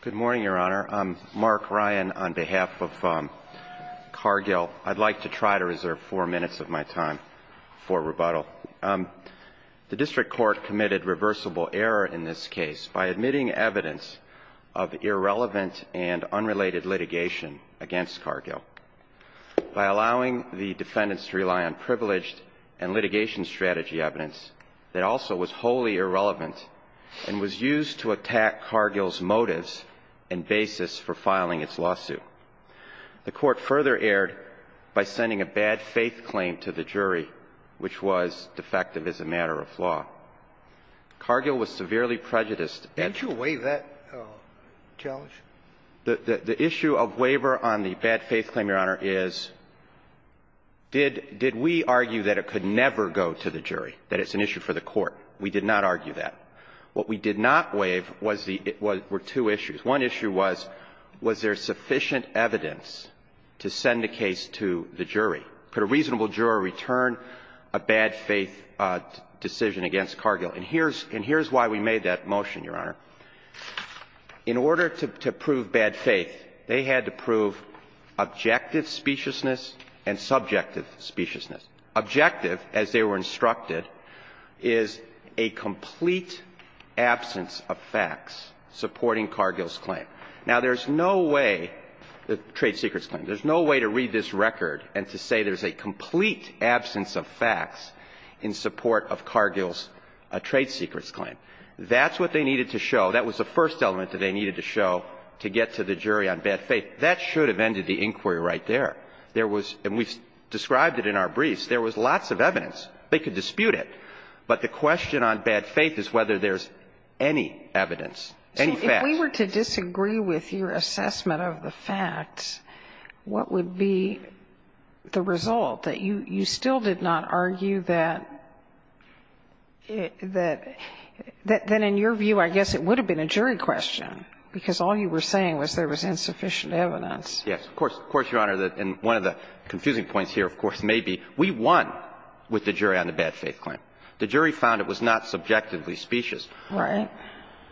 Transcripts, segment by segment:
Good morning, Your Honor. I'm Mark Ryan on behalf of Cargill. I'd like to try to reserve four minutes of my time for rebuttal. The District Court committed reversible error in this case by admitting evidence of irrelevant and unrelated litigation against Cargill by allowing the defendants to rely on privileged and litigation strategy evidence that also was wholly irrelevant and was used to attack Cargill's motives for the litigation. The Court further erred by sending a bad-faith claim to the jury, which was defective as a matter of law. Cargill was severely prejudiced at the time. The issue of waiver on the bad-faith claim, Your Honor, is did we argue that it could never go to the jury, that it's an issue for the Court? We did not argue that. What we did not waive was the — were two issues. One issue was, was there sufficient evidence to send the case to the jury? Could a reasonable juror return a bad-faith decision against Cargill? And here's — and here's why we made that motion, Your Honor. In order to prove bad faith, they had to prove objective speciousness and subjective speciousness. Objective, as they were instructed, is a complete absence of facts supporting Cargill's claim. Now, there's no way — the trade secrets claim. There's no way to read this record and to say there's a complete absence of facts in support of Cargill's trade secrets claim. That's what they needed to show. That was the first element that they needed to show to get to the jury on bad faith. That should have ended the inquiry right there. There was — and we've described it in our briefs. There was lots of evidence. They could dispute it. But the question on bad faith is whether there's any evidence, any facts. So if we were to disagree with your assessment of the facts, what would be the result, that you still did not argue that — that in your view, I guess it would have been a jury question, because all you were saying was there was insufficient evidence? Yes. Of course, Your Honor, and one of the confusing points here, of course, may be we won with the jury on the bad faith claim. The jury found it was not subjectively specious. Right.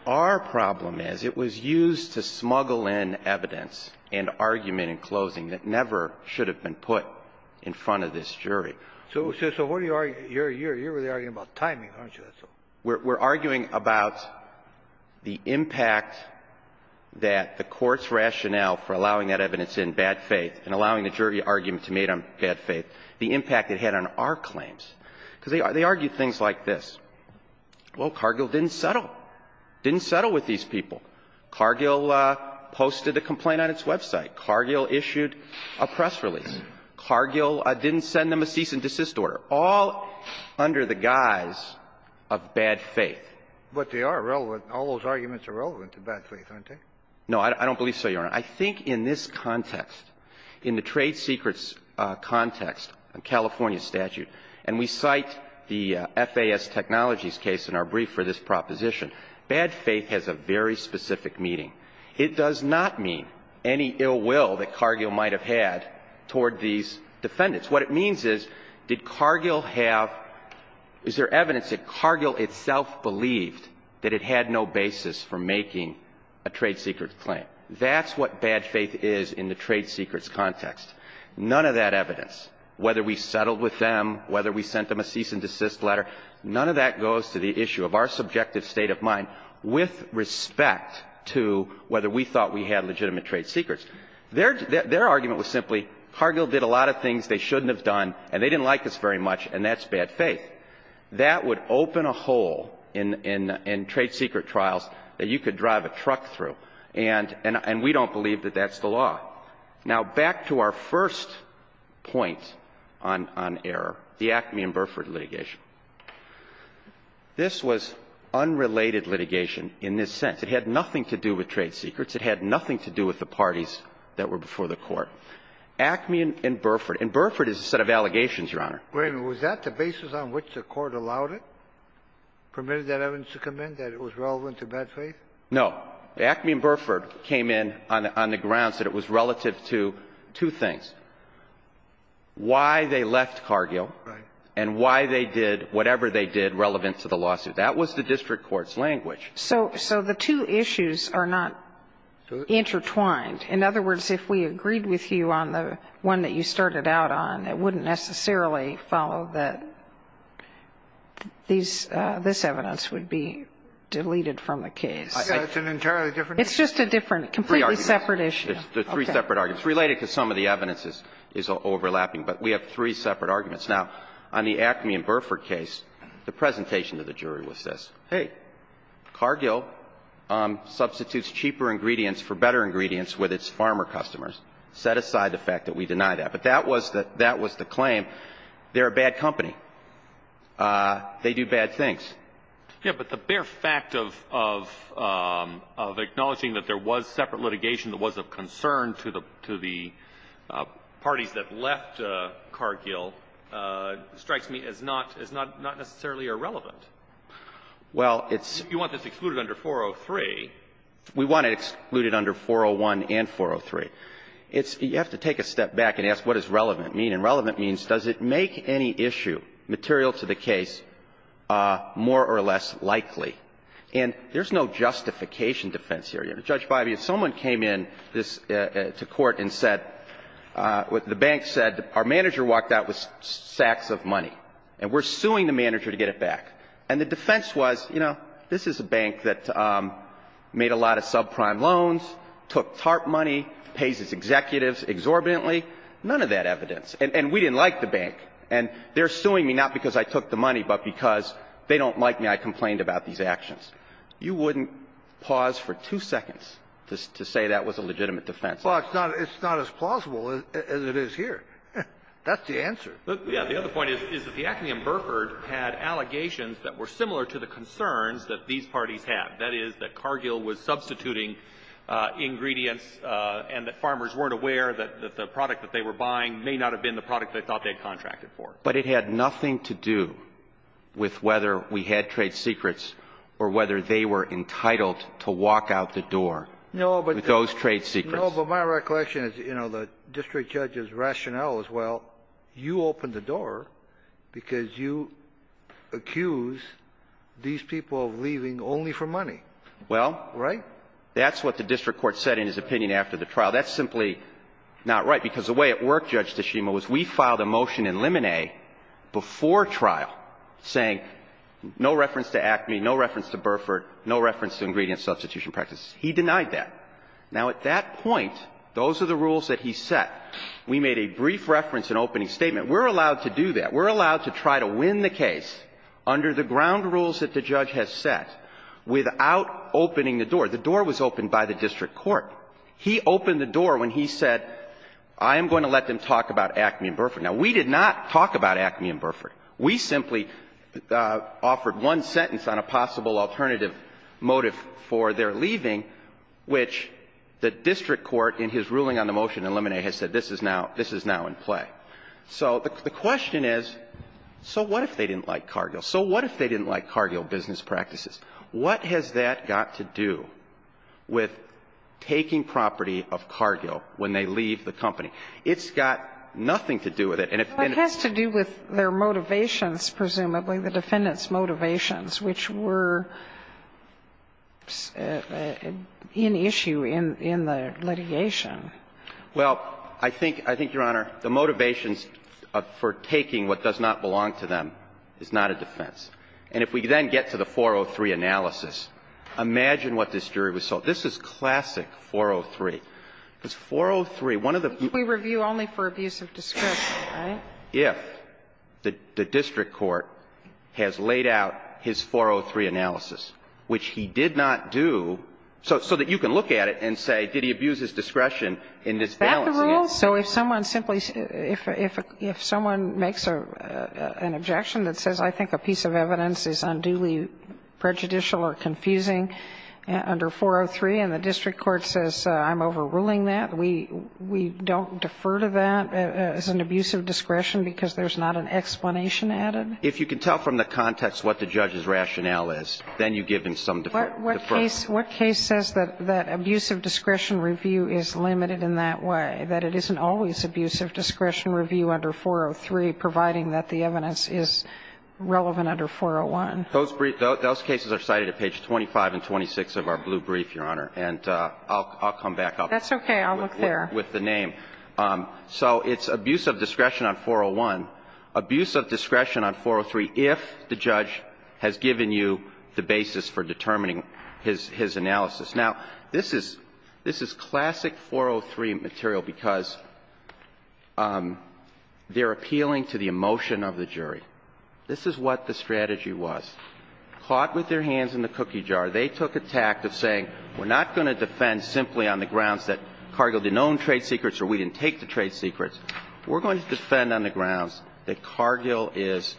Our problem is it was used to smuggle in evidence and argument in closing that never should have been put in front of this jury. So what are you — you're really arguing about timing, aren't you? We're arguing about the impact that the Court's rationale for allowing that evidence in, bad faith, and allowing the jury argument to be made on bad faith, the impact it had on our claims. Because they argue things like this. Well, Cargill didn't settle. Didn't settle with these people. Cargill posted a complaint on its website. Cargill issued a press release. Cargill didn't send them a cease-and-desist order. We're all under the guise of bad faith. But they are relevant. All those arguments are relevant to bad faith, aren't they? No, I don't believe so, Your Honor. I think in this context, in the trade secrets context, California statute, and we cite the FAS Technologies case in our brief for this proposition, bad faith has a very specific meaning. It does not mean any ill will that Cargill might have had toward these defendants. What it means is, did Cargill have – is there evidence that Cargill itself believed that it had no basis for making a trade secrets claim? That's what bad faith is in the trade secrets context. None of that evidence, whether we settled with them, whether we sent them a cease-and-desist letter, none of that goes to the issue of our subjective state of mind with respect to whether we thought we had legitimate trade secrets. Their argument was simply, Cargill did a lot of things they shouldn't have done, and they didn't like us very much, and that's bad faith. That would open a hole in trade secret trials that you could drive a truck through, and we don't believe that that's the law. Now, back to our first point on error, the Acme and Burford litigation. This was unrelated litigation in this sense. It had nothing to do with trade secrets. It had nothing to do with the parties that were before the Court. Acme and Burford. And Burford is a set of allegations, Your Honor. Wait a minute. Was that the basis on which the Court allowed it, permitted that evidence to come in, that it was relevant to bad faith? No. Acme and Burford came in on the grounds that it was relative to two things, why they left Cargill and why they did whatever they did relevant to the lawsuit. That was the district court's language. So the two issues are not intertwined. In other words, if we agreed with you on the one that you started out on, it wouldn't necessarily follow that these – this evidence would be deleted from the case. It's an entirely different issue. It's just a different, completely separate issue. There are three separate arguments. It's related because some of the evidence is overlapping, but we have three separate arguments. Now, on the Acme and Burford case, the presentation to the jury was this. Hey, Cargill substitutes cheaper ingredients for better ingredients with its farmer customers. Set aside the fact that we deny that. But that was the claim. They're a bad company. They do bad things. Yeah, but the bare fact of acknowledging that there was separate litigation that was of concern to the parties that left Cargill strikes me as not necessarily irrelevant. Well, it's – You want this excluded under 403. We want it excluded under 401 and 403. It's – you have to take a step back and ask what does relevant mean. And relevant means does it make any issue material to the case more or less likely? And there's no justification defense here. Judge Bivey, if someone came in this – to court and said – the bank said our manager walked out with sacks of money, and we're suing the manager to get it back. And the defense was, you know, this is a bank that made a lot of subprime loans, took TARP money, pays its executives exorbitantly. None of that evidence. And we didn't like the bank. And they're suing me not because I took the money, but because they don't like me. I complained about these actions. You wouldn't pause for two seconds to say that was a legitimate defense. Well, it's not – it's not as plausible as it is here. That's the answer. But, yeah, the other point is that the Acme and Burford had allegations that were similar to the concerns that these parties had, that is, that Cargill was substituting ingredients and that farmers weren't aware that the product that they were buying may not have been the product they thought they had contracted for. But it had nothing to do with whether we had trade secrets or whether they were entitled to walk out the door with those trade secrets. No, but my recollection is, you know, the district judge's rationale is, well, you opened the door because you accused these people of leaving only for money. Well, that's what the district court said in his opinion after the trial. That's simply not right, because the way it worked, Judge Tshima, was we filed a motion in limine before trial saying no reference to Acme, no reference to Burford, no reference to ingredient substitution practices. He denied that. Now, at that point, those are the rules that he set. We made a brief reference in opening statement. We're allowed to do that. We're allowed to try to win the case under the ground rules that the judge has set without opening the door. The door was opened by the district court. He opened the door when he said, I am going to let them talk about Acme and Burford. Now, we did not talk about Acme and Burford. We simply offered one sentence on a possible alternative motive for their leaving, which the district court in his ruling on the motion in limine has said this is now in play. So the question is, so what if they didn't like Cargill? So what if they didn't like Cargill business practices? What has that got to do with taking property of Cargill when they leave the company? It's got nothing to do with it. And if any of it has to do with their motivations, presumably, the defendants' motivations, which were in issue in the litigation. Well, I think, Your Honor, the motivations for taking what does not belong to them is not a defense. And if we then get to the 403 analysis, imagine what this jury would say. This is classic 403, because 403, one of the things we review only for abuse of discretion, right? If the district court has laid out his 403 analysis, which he did not do, so that you can look at it and say, did he abuse his discretion in this balance? That the rule? So if someone simply – if someone makes an objection that says, I think a piece of evidence is unduly prejudicial or confusing under 403, and the district court says, I'm overruling that, we don't defer to that as an abuse of discretion because there's not an explanation added? If you can tell from the context what the judge's rationale is, then you give him some deferral. What case says that abuse of discretion review is limited in that way, that it isn't always abuse of discretion review under 403, providing that the evidence is relevant under 401? Those briefs – those cases are cited at page 25 and 26 of our blue brief, Your Honor, and I'll come back up with the name. I'll look there. So it's abuse of discretion on 401, abuse of discretion on 403 if the judge has given you the basis for determining his analysis. Now, this is – this is classic 403 material because they're appealing to the emotion of the jury. This is what the strategy was. Caught with their hands in the cookie jar, they took a tact of saying, we're not going to defend simply on the grounds that Cargill didn't own trade secrets or we didn't take the trade secrets. We're going to defend on the grounds that Cargill is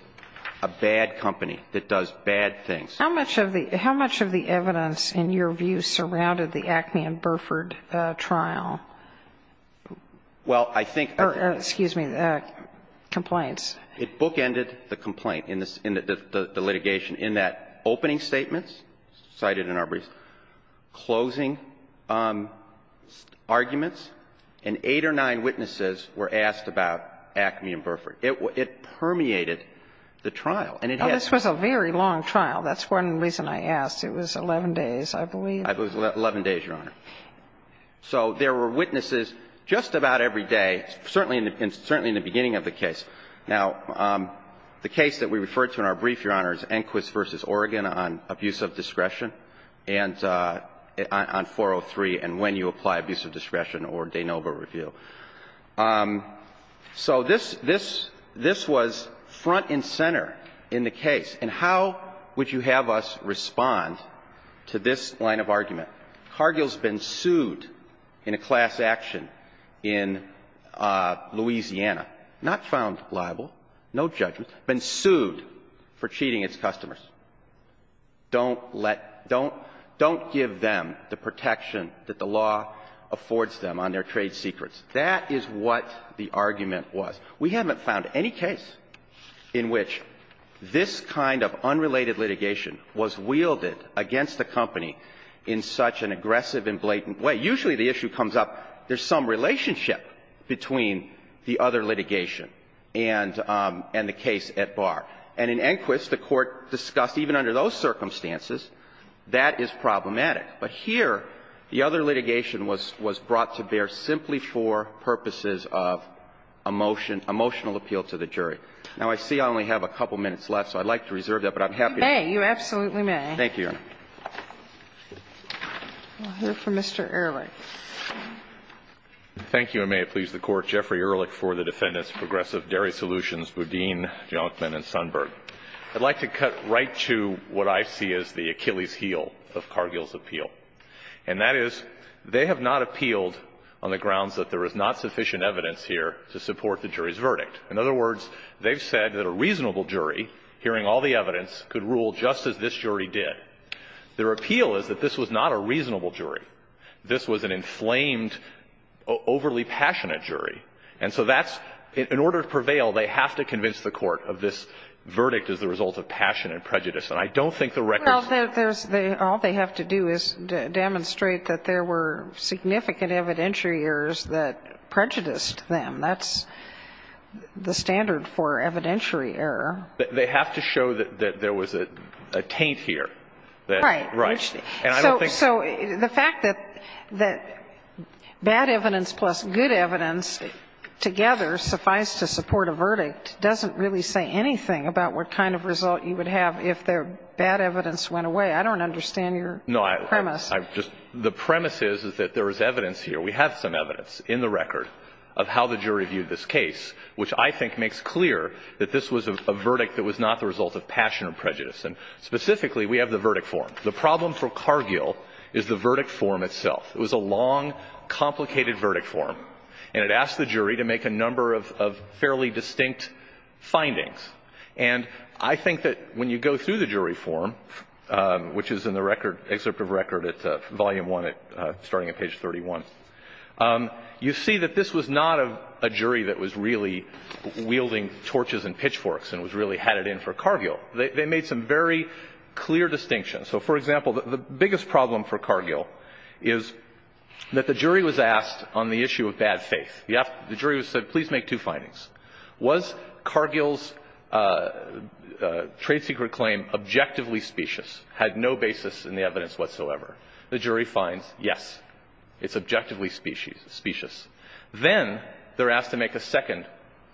a bad company that does bad things. How much of the – how much of the evidence, in your view, surrounded the Acme and Burford trial? Well, I think – Or, excuse me, complaints. It bookended the complaint in the litigation in that opening statements cited in our case, closing arguments, and eight or nine witnesses were asked about Acme and Burford. It – it permeated the trial. And it had – Oh, this was a very long trial. That's one reason I asked. It was 11 days, I believe. It was 11 days, Your Honor. So there were witnesses just about every day, certainly in the beginning of the case. Now, the case that we referred to in our brief, Your Honor, is Enquist v. Oregon on abuse of discretion and – on 403 and when you apply abuse of discretion or de novo review. So this – this – this was front and center in the case. And how would you have us respond to this line of argument? Cargill's been sued in a class action in Louisiana, not found liable, no judgment, been sued for cheating its customers. Don't let – don't – don't give them the protection that the law affords them on their trade secrets. That is what the argument was. We haven't found any case in which this kind of unrelated litigation was wielded against the company in such an aggressive and blatant way. Usually the issue comes up, there's some relationship between the other litigation and – and the case at bar. And in Enquist, the Court discussed even under those circumstances, that is problematic. But here, the other litigation was – was brought to bear simply for purposes of emotion – emotional appeal to the jury. Now, I see I only have a couple minutes left, so I'd like to reserve that, but I'm happy to – You may. You absolutely may. Thank you, Your Honor. We'll hear from Mr. Ehrlich. Thank you. May it please the Court, Jeffrey Ehrlich for the defendants, Progressive Dairy Solutions, Boudin, Jonkman, and Sundberg. I'd like to cut right to what I see as the Achilles' heel of Cargill's appeal. And that is, they have not appealed on the grounds that there is not sufficient evidence here to support the jury's verdict. In other words, they've said that a reasonable jury, hearing all the evidence, could rule just as this jury did. Their appeal is that this was not a reasonable jury. This was an inflamed, overly passionate jury. And so that's – in order to prevail, they have to convince the Court of this verdict as the result of passion and prejudice. And I don't think the record – Well, there's – all they have to do is demonstrate that there were significant evidentiary errors that prejudiced them. That's the standard for evidentiary error. They have to show that there was a taint here. Right. Right. And I don't think – So the fact that bad evidence plus good evidence together suffice to support a verdict doesn't really say anything about what kind of result you would have if their bad evidence went away. I don't understand your premise. I just – the premise is that there is evidence here. We have some evidence in the record of how the jury viewed this case, which I think makes clear that this was a verdict that was not the result of passion or prejudice. And specifically, we have the verdict form. The problem for Cargill is the verdict form itself. It was a long, complicated verdict form, and it asked the jury to make a number of fairly distinct findings. And I think that when you go through the jury form, which is in the record – excerpt of record at volume one, starting at page 31, you see that this was not a jury that was really wielding torches and pitchforks and was really – had it in for Cargill. They made some very clear distinctions. So, for example, the biggest problem for Cargill is that the jury was asked on the issue of bad faith. The jury was said, please make two findings. Was Cargill's trade secret claim objectively specious, had no basis in the evidence whatsoever? The jury finds, yes, it's objectively specious. Then they're asked to make a second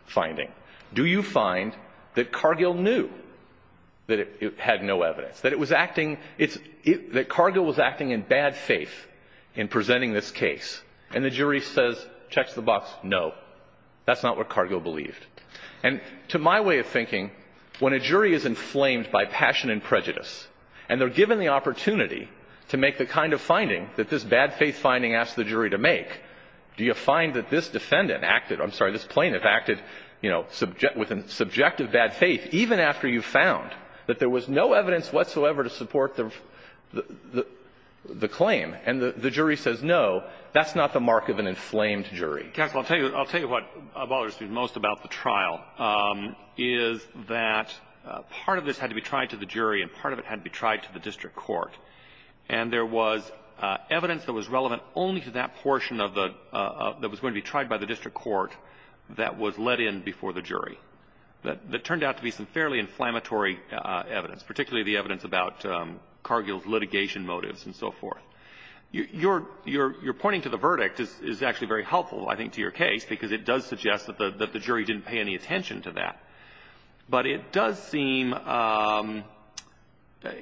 finding. Do you find that Cargill knew that it had no evidence, that it was acting – that Cargill was acting in bad faith in presenting this case? And the jury says, checks the box, no. That's not what Cargill believed. And to my way of thinking, when a jury is inflamed by passion and prejudice, and they're given the opportunity to make the kind of finding that this bad faith finding asked the jury to make, do you find that this defendant acted – I'm sorry, this plaintiff acted, you know, with a subjective bad faith even after you found that there was no evidence whatsoever to support the claim? And the jury says, no, that's not the mark of an inflamed jury. Justice, I'll tell you what bothers me most about the trial is that part of this had to be tried to the jury, and part of it had to be tried to the district court. And there was evidence that was relevant only to that portion of the – that was going to be tried by the district court that was let in before the jury, that turned out to be some fairly inflammatory evidence, particularly the evidence about Cargill's litigation motives and so forth. Your pointing to the verdict is actually very helpful, I think, to your case, because it does suggest that the jury didn't pay any attention to that. But it does seem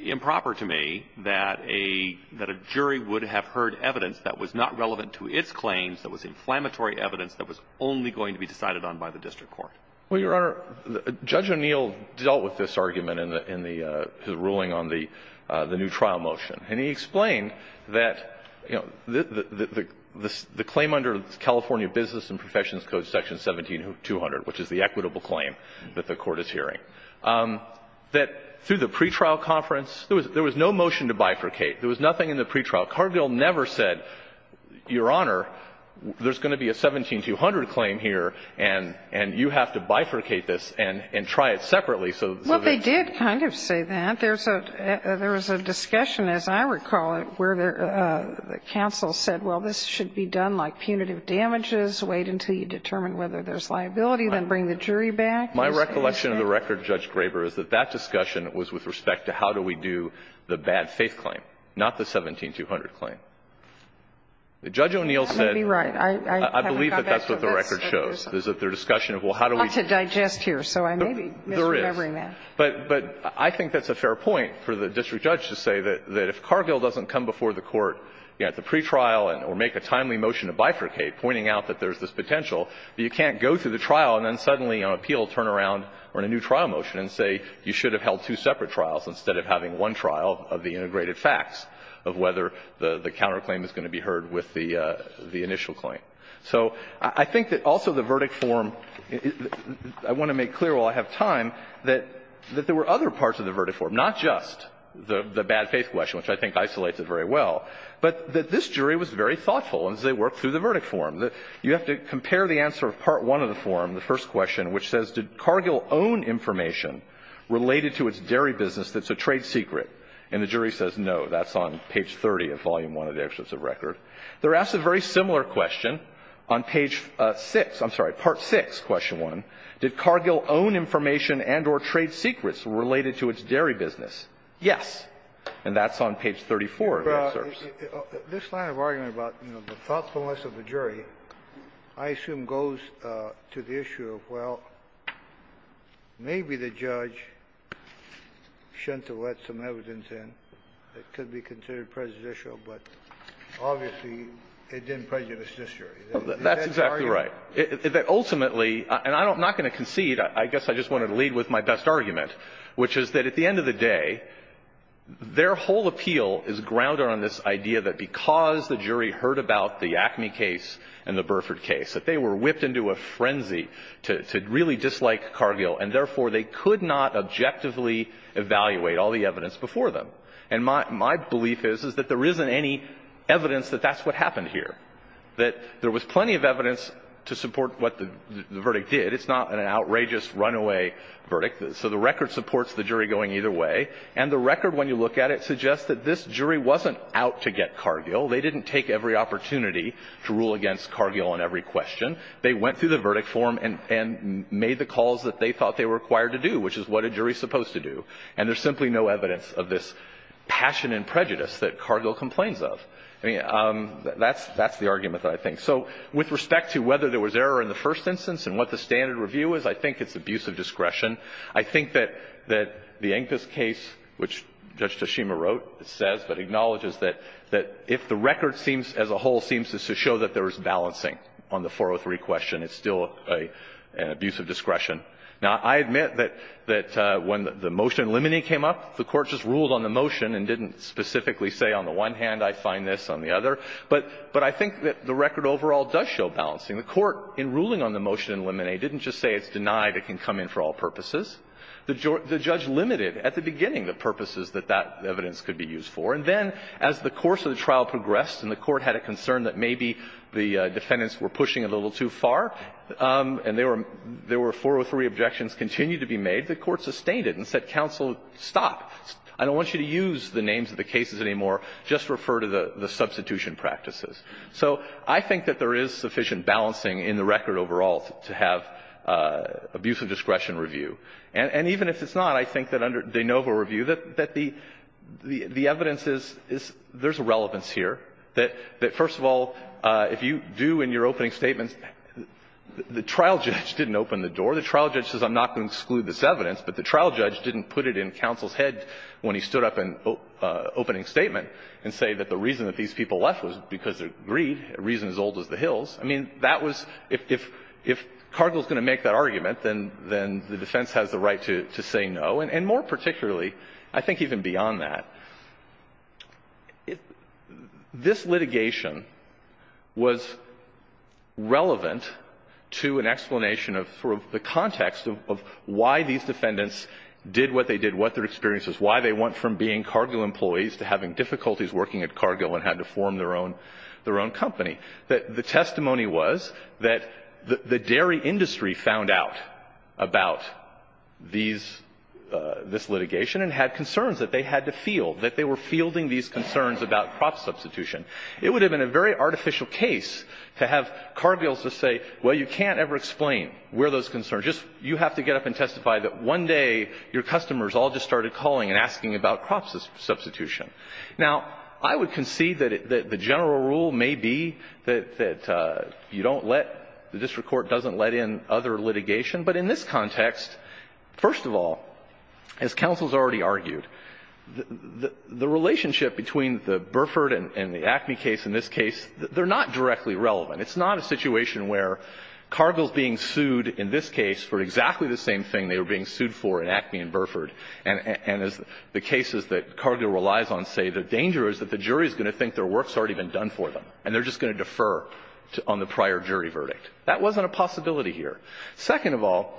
improper to me that a jury would have heard evidence that was not relevant to its claims, that was inflammatory evidence that was only going to be decided on by the district court. Well, Your Honor, Judge O'Neill dealt with this argument in the – in the – his ruling on the new trial motion. And he explained that, you know, the claim under California Business and Professions Code, Section 17200, which is the equitable claim that the Court is hearing, that through the pretrial conference, there was no motion to bifurcate. There was nothing in the pretrial. Cargill never said, Your Honor, there's going to be a 17200 claim here, and you have to bifurcate this and try it separately so that it's – Well, they did kind of say that. There's a – there was a discussion, as I recall it, where the counsel said, well, this should be done like punitive damages, wait until you determine whether there's liability, then bring the jury back. My recollection of the record, Judge Graber, is that that discussion was with respect to how do we do the bad-faith claim, not the 17200 claim. Judge O'Neill said – That may be right. I haven't got back to this. I believe that that's what the record shows, is that their discussion of, well, how do we – I'm not to digest here, so I may be misremembering that. There is. But I think that's a fair point for the district judge to say that if Cargill doesn't come before the Court, you know, at the pretrial and – or make a timely motion to bifurcate, pointing out that there's this potential, but you can't go through the trial and then suddenly on appeal turn around or in a new trial motion and say, you should have held two separate trials instead of having one trial of the integrated facts of whether the counterclaim is going to be heard with the initial claim. So I think that also the verdict form – I want to make clear while I have time that there were other parts of the verdict form, not just the bad-faith question, which I think isolates it very well, but that this jury was very thoughtful as they worked through the verdict form. You have to compare the answer of Part I of the form, the first question, which says, did Cargill own information related to its dairy business that's a trade secret? And the jury says, no. That's on page 30 of Volume I of the Excerpts of Record. They're asked a very similar question on page 6 – I'm sorry, Part VI, Question 1. Did Cargill own information and or trade secrets related to its dairy business? Yes. And that's on page 34 of the excerpts. This line of argument about, you know, the thoughtfulness of the jury, I assume, goes to the issue of, well, maybe the judge shouldn't have let some evidence in that could be considered prejudicial, but obviously it didn't prejudice this jury. Is that the argument? That's exactly right. Ultimately – and I'm not going to concede. I guess I just wanted to lead with my best argument, which is that at the end of the day, their whole appeal is grounded on this idea that because the jury heard about the Acme case and the Burford case, that they were whipped into a frenzy to really dislike Cargill, and therefore they could not objectively evaluate all the evidence before them. And my belief is, is that there isn't any evidence that that's what happened here, that there was plenty of evidence to support what the verdict did. It's not an outrageous runaway verdict. So the record supports the jury going either way. And the record, when you look at it, suggests that this jury wasn't out to get Cargill. They didn't take every opportunity to rule against Cargill on every question. They went through the verdict form and made the calls that they thought they were required to do, which is what a jury is supposed to do. And there's simply no evidence of this passion and prejudice that Cargill complains of. I mean, that's the argument that I think. So with respect to whether there was error in the first instance and what the standard review is, I think it's abuse of discretion. I think that the Ancus case, which Judge Toshima wrote, says, but acknowledges that if the record seems, as a whole, seems to show that there was balancing on the 403 question, it's still an abuse of discretion. Now, I admit that when the motion in limine came up, the Court just ruled on the motion and didn't specifically say on the one hand, I find this, on the other. But I think that the record overall does show balancing. The Court, in ruling on the motion in limine, didn't just say it's denied, it can come in for all purposes. The judge limited at the beginning the purposes that that evidence could be used for. And then as the course of the trial progressed and the Court had a concern that maybe the defendants were pushing a little too far, and there were 403 objections continued to be made, the Court sustained it and said, counsel, stop. I don't want you to use the names of the cases anymore. Just refer to the substitution practices. So I think that there is sufficient balancing in the record overall to have abuse of discretion review. And even if it's not, I think that under de novo review, that the evidence is, there's a relevance here, that first of all, if you do in your opening statements, the trial judge didn't open the door. The trial judge says I'm not going to exclude this evidence, but the trial judge didn't put it in counsel's head when he stood up in opening statement and say that the reason that these people left was because of greed, a reason as old as the Hills. I mean, that was, if Cargill is going to make that argument, then the defense has the right to say no, and more particularly, I think even beyond that. This litigation was relevant to an explanation of sort of the context of why these defendants did what they did, what their experience was, why they went from being Cargill employees to having difficulties working at Cargill and had to form their own company. The testimony was that the dairy industry found out about these – this litigation and had concerns that they had to field, that they were fielding these concerns about crop substitution. It would have been a very artificial case to have Cargill just say, well, you can't ever explain where those concerns – you have to get up and testify that one day your customers all just started calling and asking about crop substitution. Now, I would concede that the general rule may be that you don't let – the district court doesn't let in other litigation, but in this context, first of all, as counsel has already argued, the relationship between the Burford and the Acme case in this case, they're not directly relevant. It's not a situation where Cargill is being sued in this case for exactly the same thing they were being sued for in Acme and Burford, and as the cases that Cargill relies on say, the danger is that the jury is going to think their work's already been done for them, and they're just going to defer on the prior jury verdict. That wasn't a possibility here. Second of all,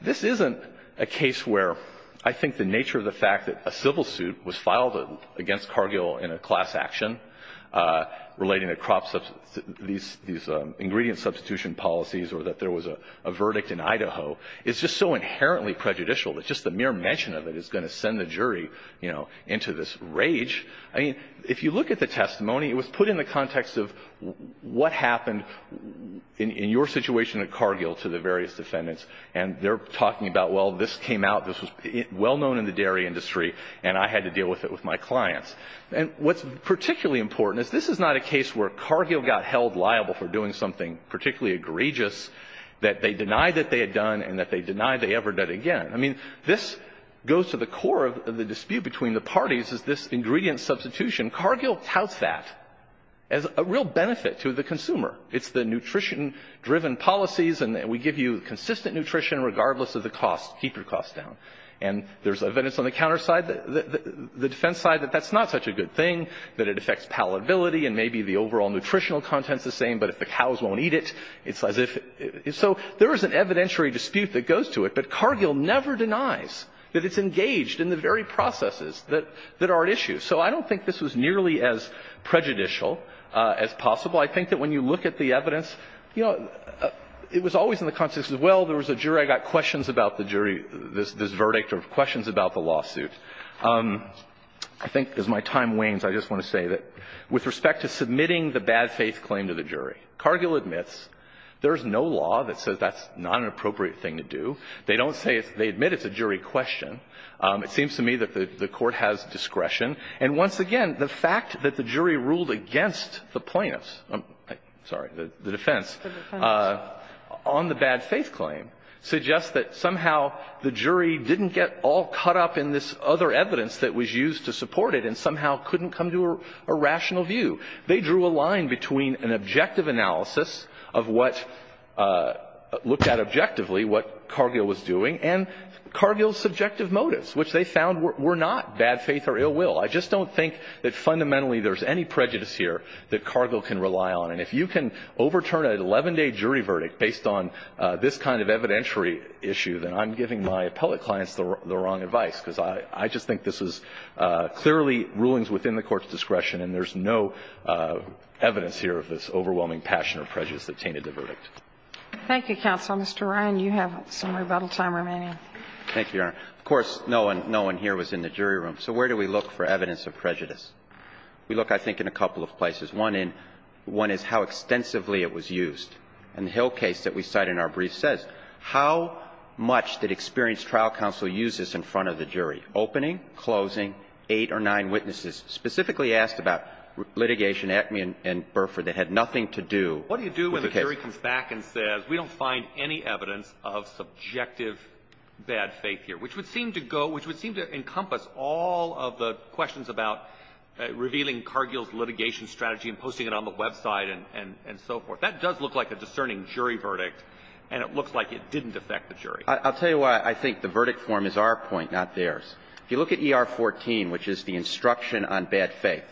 this isn't a case where I think the nature of the fact that a civil suit was filed against Cargill in a class action relating to crop – these ingredient substitution policies or that there was a verdict in Idaho is just so inherently prejudicial that just the mere mention of it is going to send the jury, you know, into this rage. I mean, if you look at the testimony, it was put in the context of what happened in your situation at Cargill to the various defendants, and they're talking about, well, this came out, this was well known in the dairy industry, and I had to deal with it with my clients. And what's particularly important is this is not a case where Cargill got held liable for doing something particularly egregious that they denied that they had done and that they denied they ever did again. I mean, this goes to the core of the dispute between the parties is this ingredient substitution. Cargill touts that as a real benefit to the consumer. It's the nutrition-driven policies, and we give you consistent nutrition regardless of the cost. Keep your costs down. And there's evidence on the counter side, the defense side, that that's not such a good thing, that it affects palatability, and maybe the overall nutritional content's the same, but if the cows won't eat it, it's as if – so there is an evidentiary dispute that goes to it. But Cargill never denies that it's engaged in the very processes that are at issue. So I don't think this was nearly as prejudicial as possible. I think that when you look at the evidence, you know, it was always in the context of, well, there was a jury, I got questions about the jury, this verdict, or questions about the lawsuit. I think as my time wanes, I just want to say that with respect to submitting the bad faith claim to the jury, Cargill admits there's no law that says that's not an appropriate thing to do. They don't say it's – they admit it's a jury question. It seems to me that the Court has discretion. And once again, the fact that the jury ruled against the plaintiffs – I'm sorry, the defense – on the bad faith claim suggests that somehow the jury didn't get all caught up in this other evidence that was used to support it and somehow couldn't come to a rational view. They drew a line between an objective analysis of what – looked at objectively what Cargill was doing and Cargill's subjective motives, which they found were not bad faith or ill will. I just don't think that fundamentally there's any prejudice here that Cargill can rely on. And if you can overturn an 11-day jury verdict based on this kind of evidentiary issue, then I'm giving my appellate clients the wrong advice, because I just think this is clearly rulings within the Court's discretion, and there's no evidence here of this overwhelming passion or prejudice that tainted the verdict. Thank you, counsel. Mr. Ryan, you have some rebuttal time remaining. Thank you, Your Honor. Of course, no one here was in the jury room. So where do we look for evidence of prejudice? We look, I think, in a couple of places. One in – one is how extensively it was used. And the Hill case that we cite in our brief says how much did experienced trial counsel use this in front of the jury, opening, closing, eight or nine witnesses specifically asked about litigation, Acme and Burford that had nothing to do with the case. And then the jury comes back and says, we don't find any evidence of subjective bad faith here, which would seem to go – which would seem to encompass all of the questions about revealing Cargill's litigation strategy and posting it on the website and so forth. That does look like a discerning jury verdict, and it looks like it didn't affect the jury. I'll tell you why I think the verdict form is our point, not theirs. If you look at ER 14, which is the instruction on bad faith,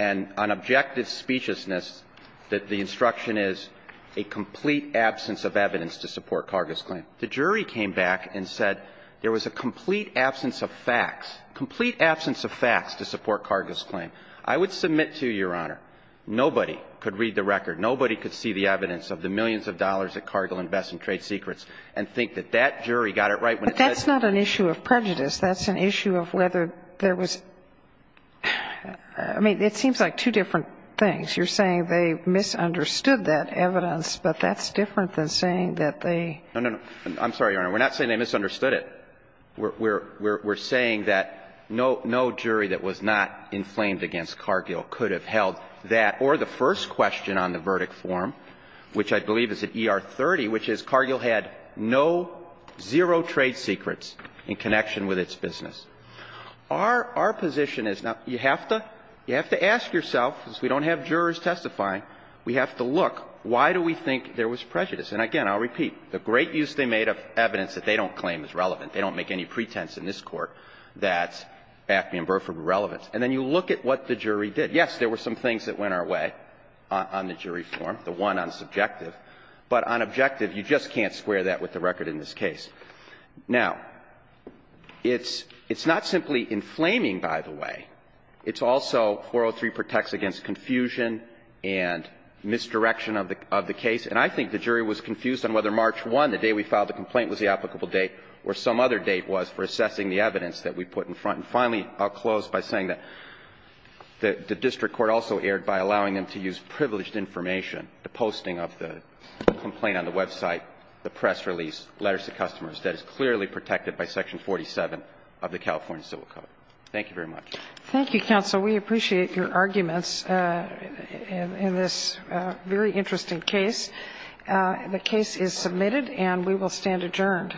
and on objective speechlessness, that the instruction is a complete absence of evidence to support Cargill's claim. The jury came back and said there was a complete absence of facts, complete absence of facts to support Cargill's claim. I would submit to you, Your Honor, nobody could read the record, nobody could see the evidence of the millions of dollars that Cargill invests in trade secrets and think that that jury got it right when it said – But that's not an issue of prejudice. That's an issue of whether there was – I mean, it seems like two different things. You're saying they misunderstood that evidence, but that's different than saying that they – No, no, no. I'm sorry, Your Honor. We're not saying they misunderstood it. We're saying that no jury that was not inflamed against Cargill could have held that or the first question on the verdict form, which I believe is at ER 30, which is Cargill had no, zero trade secrets in connection with its business. Our position is – now, you have to ask yourself, because we don't have jurors testifying, we have to look, why do we think there was prejudice? And again, I'll repeat, the great use they made of evidence that they don't claim is relevant. They don't make any pretense in this Court that Acme and Burford were relevant. And then you look at what the jury did. Yes, there were some things that went our way on the jury form, the one on subjective. But on objective, you just can't square that with the record in this case. Now, it's not simply inflaming, by the way. It's also 403 protects against confusion and misdirection of the case. And I think the jury was confused on whether March 1, the day we filed the complaint, was the applicable date or some other date was for assessing the evidence that we put in front. And finally, I'll close by saying that the district court also erred by allowing them to use privileged information, the posting of the complaint on the website, the press release, letters to customers, that is clearly protected by Section 47 of the California Civil Code. Thank you very much. Thank you, counsel. We appreciate your arguments in this very interesting case. The case is submitted, and we will stand adjourned.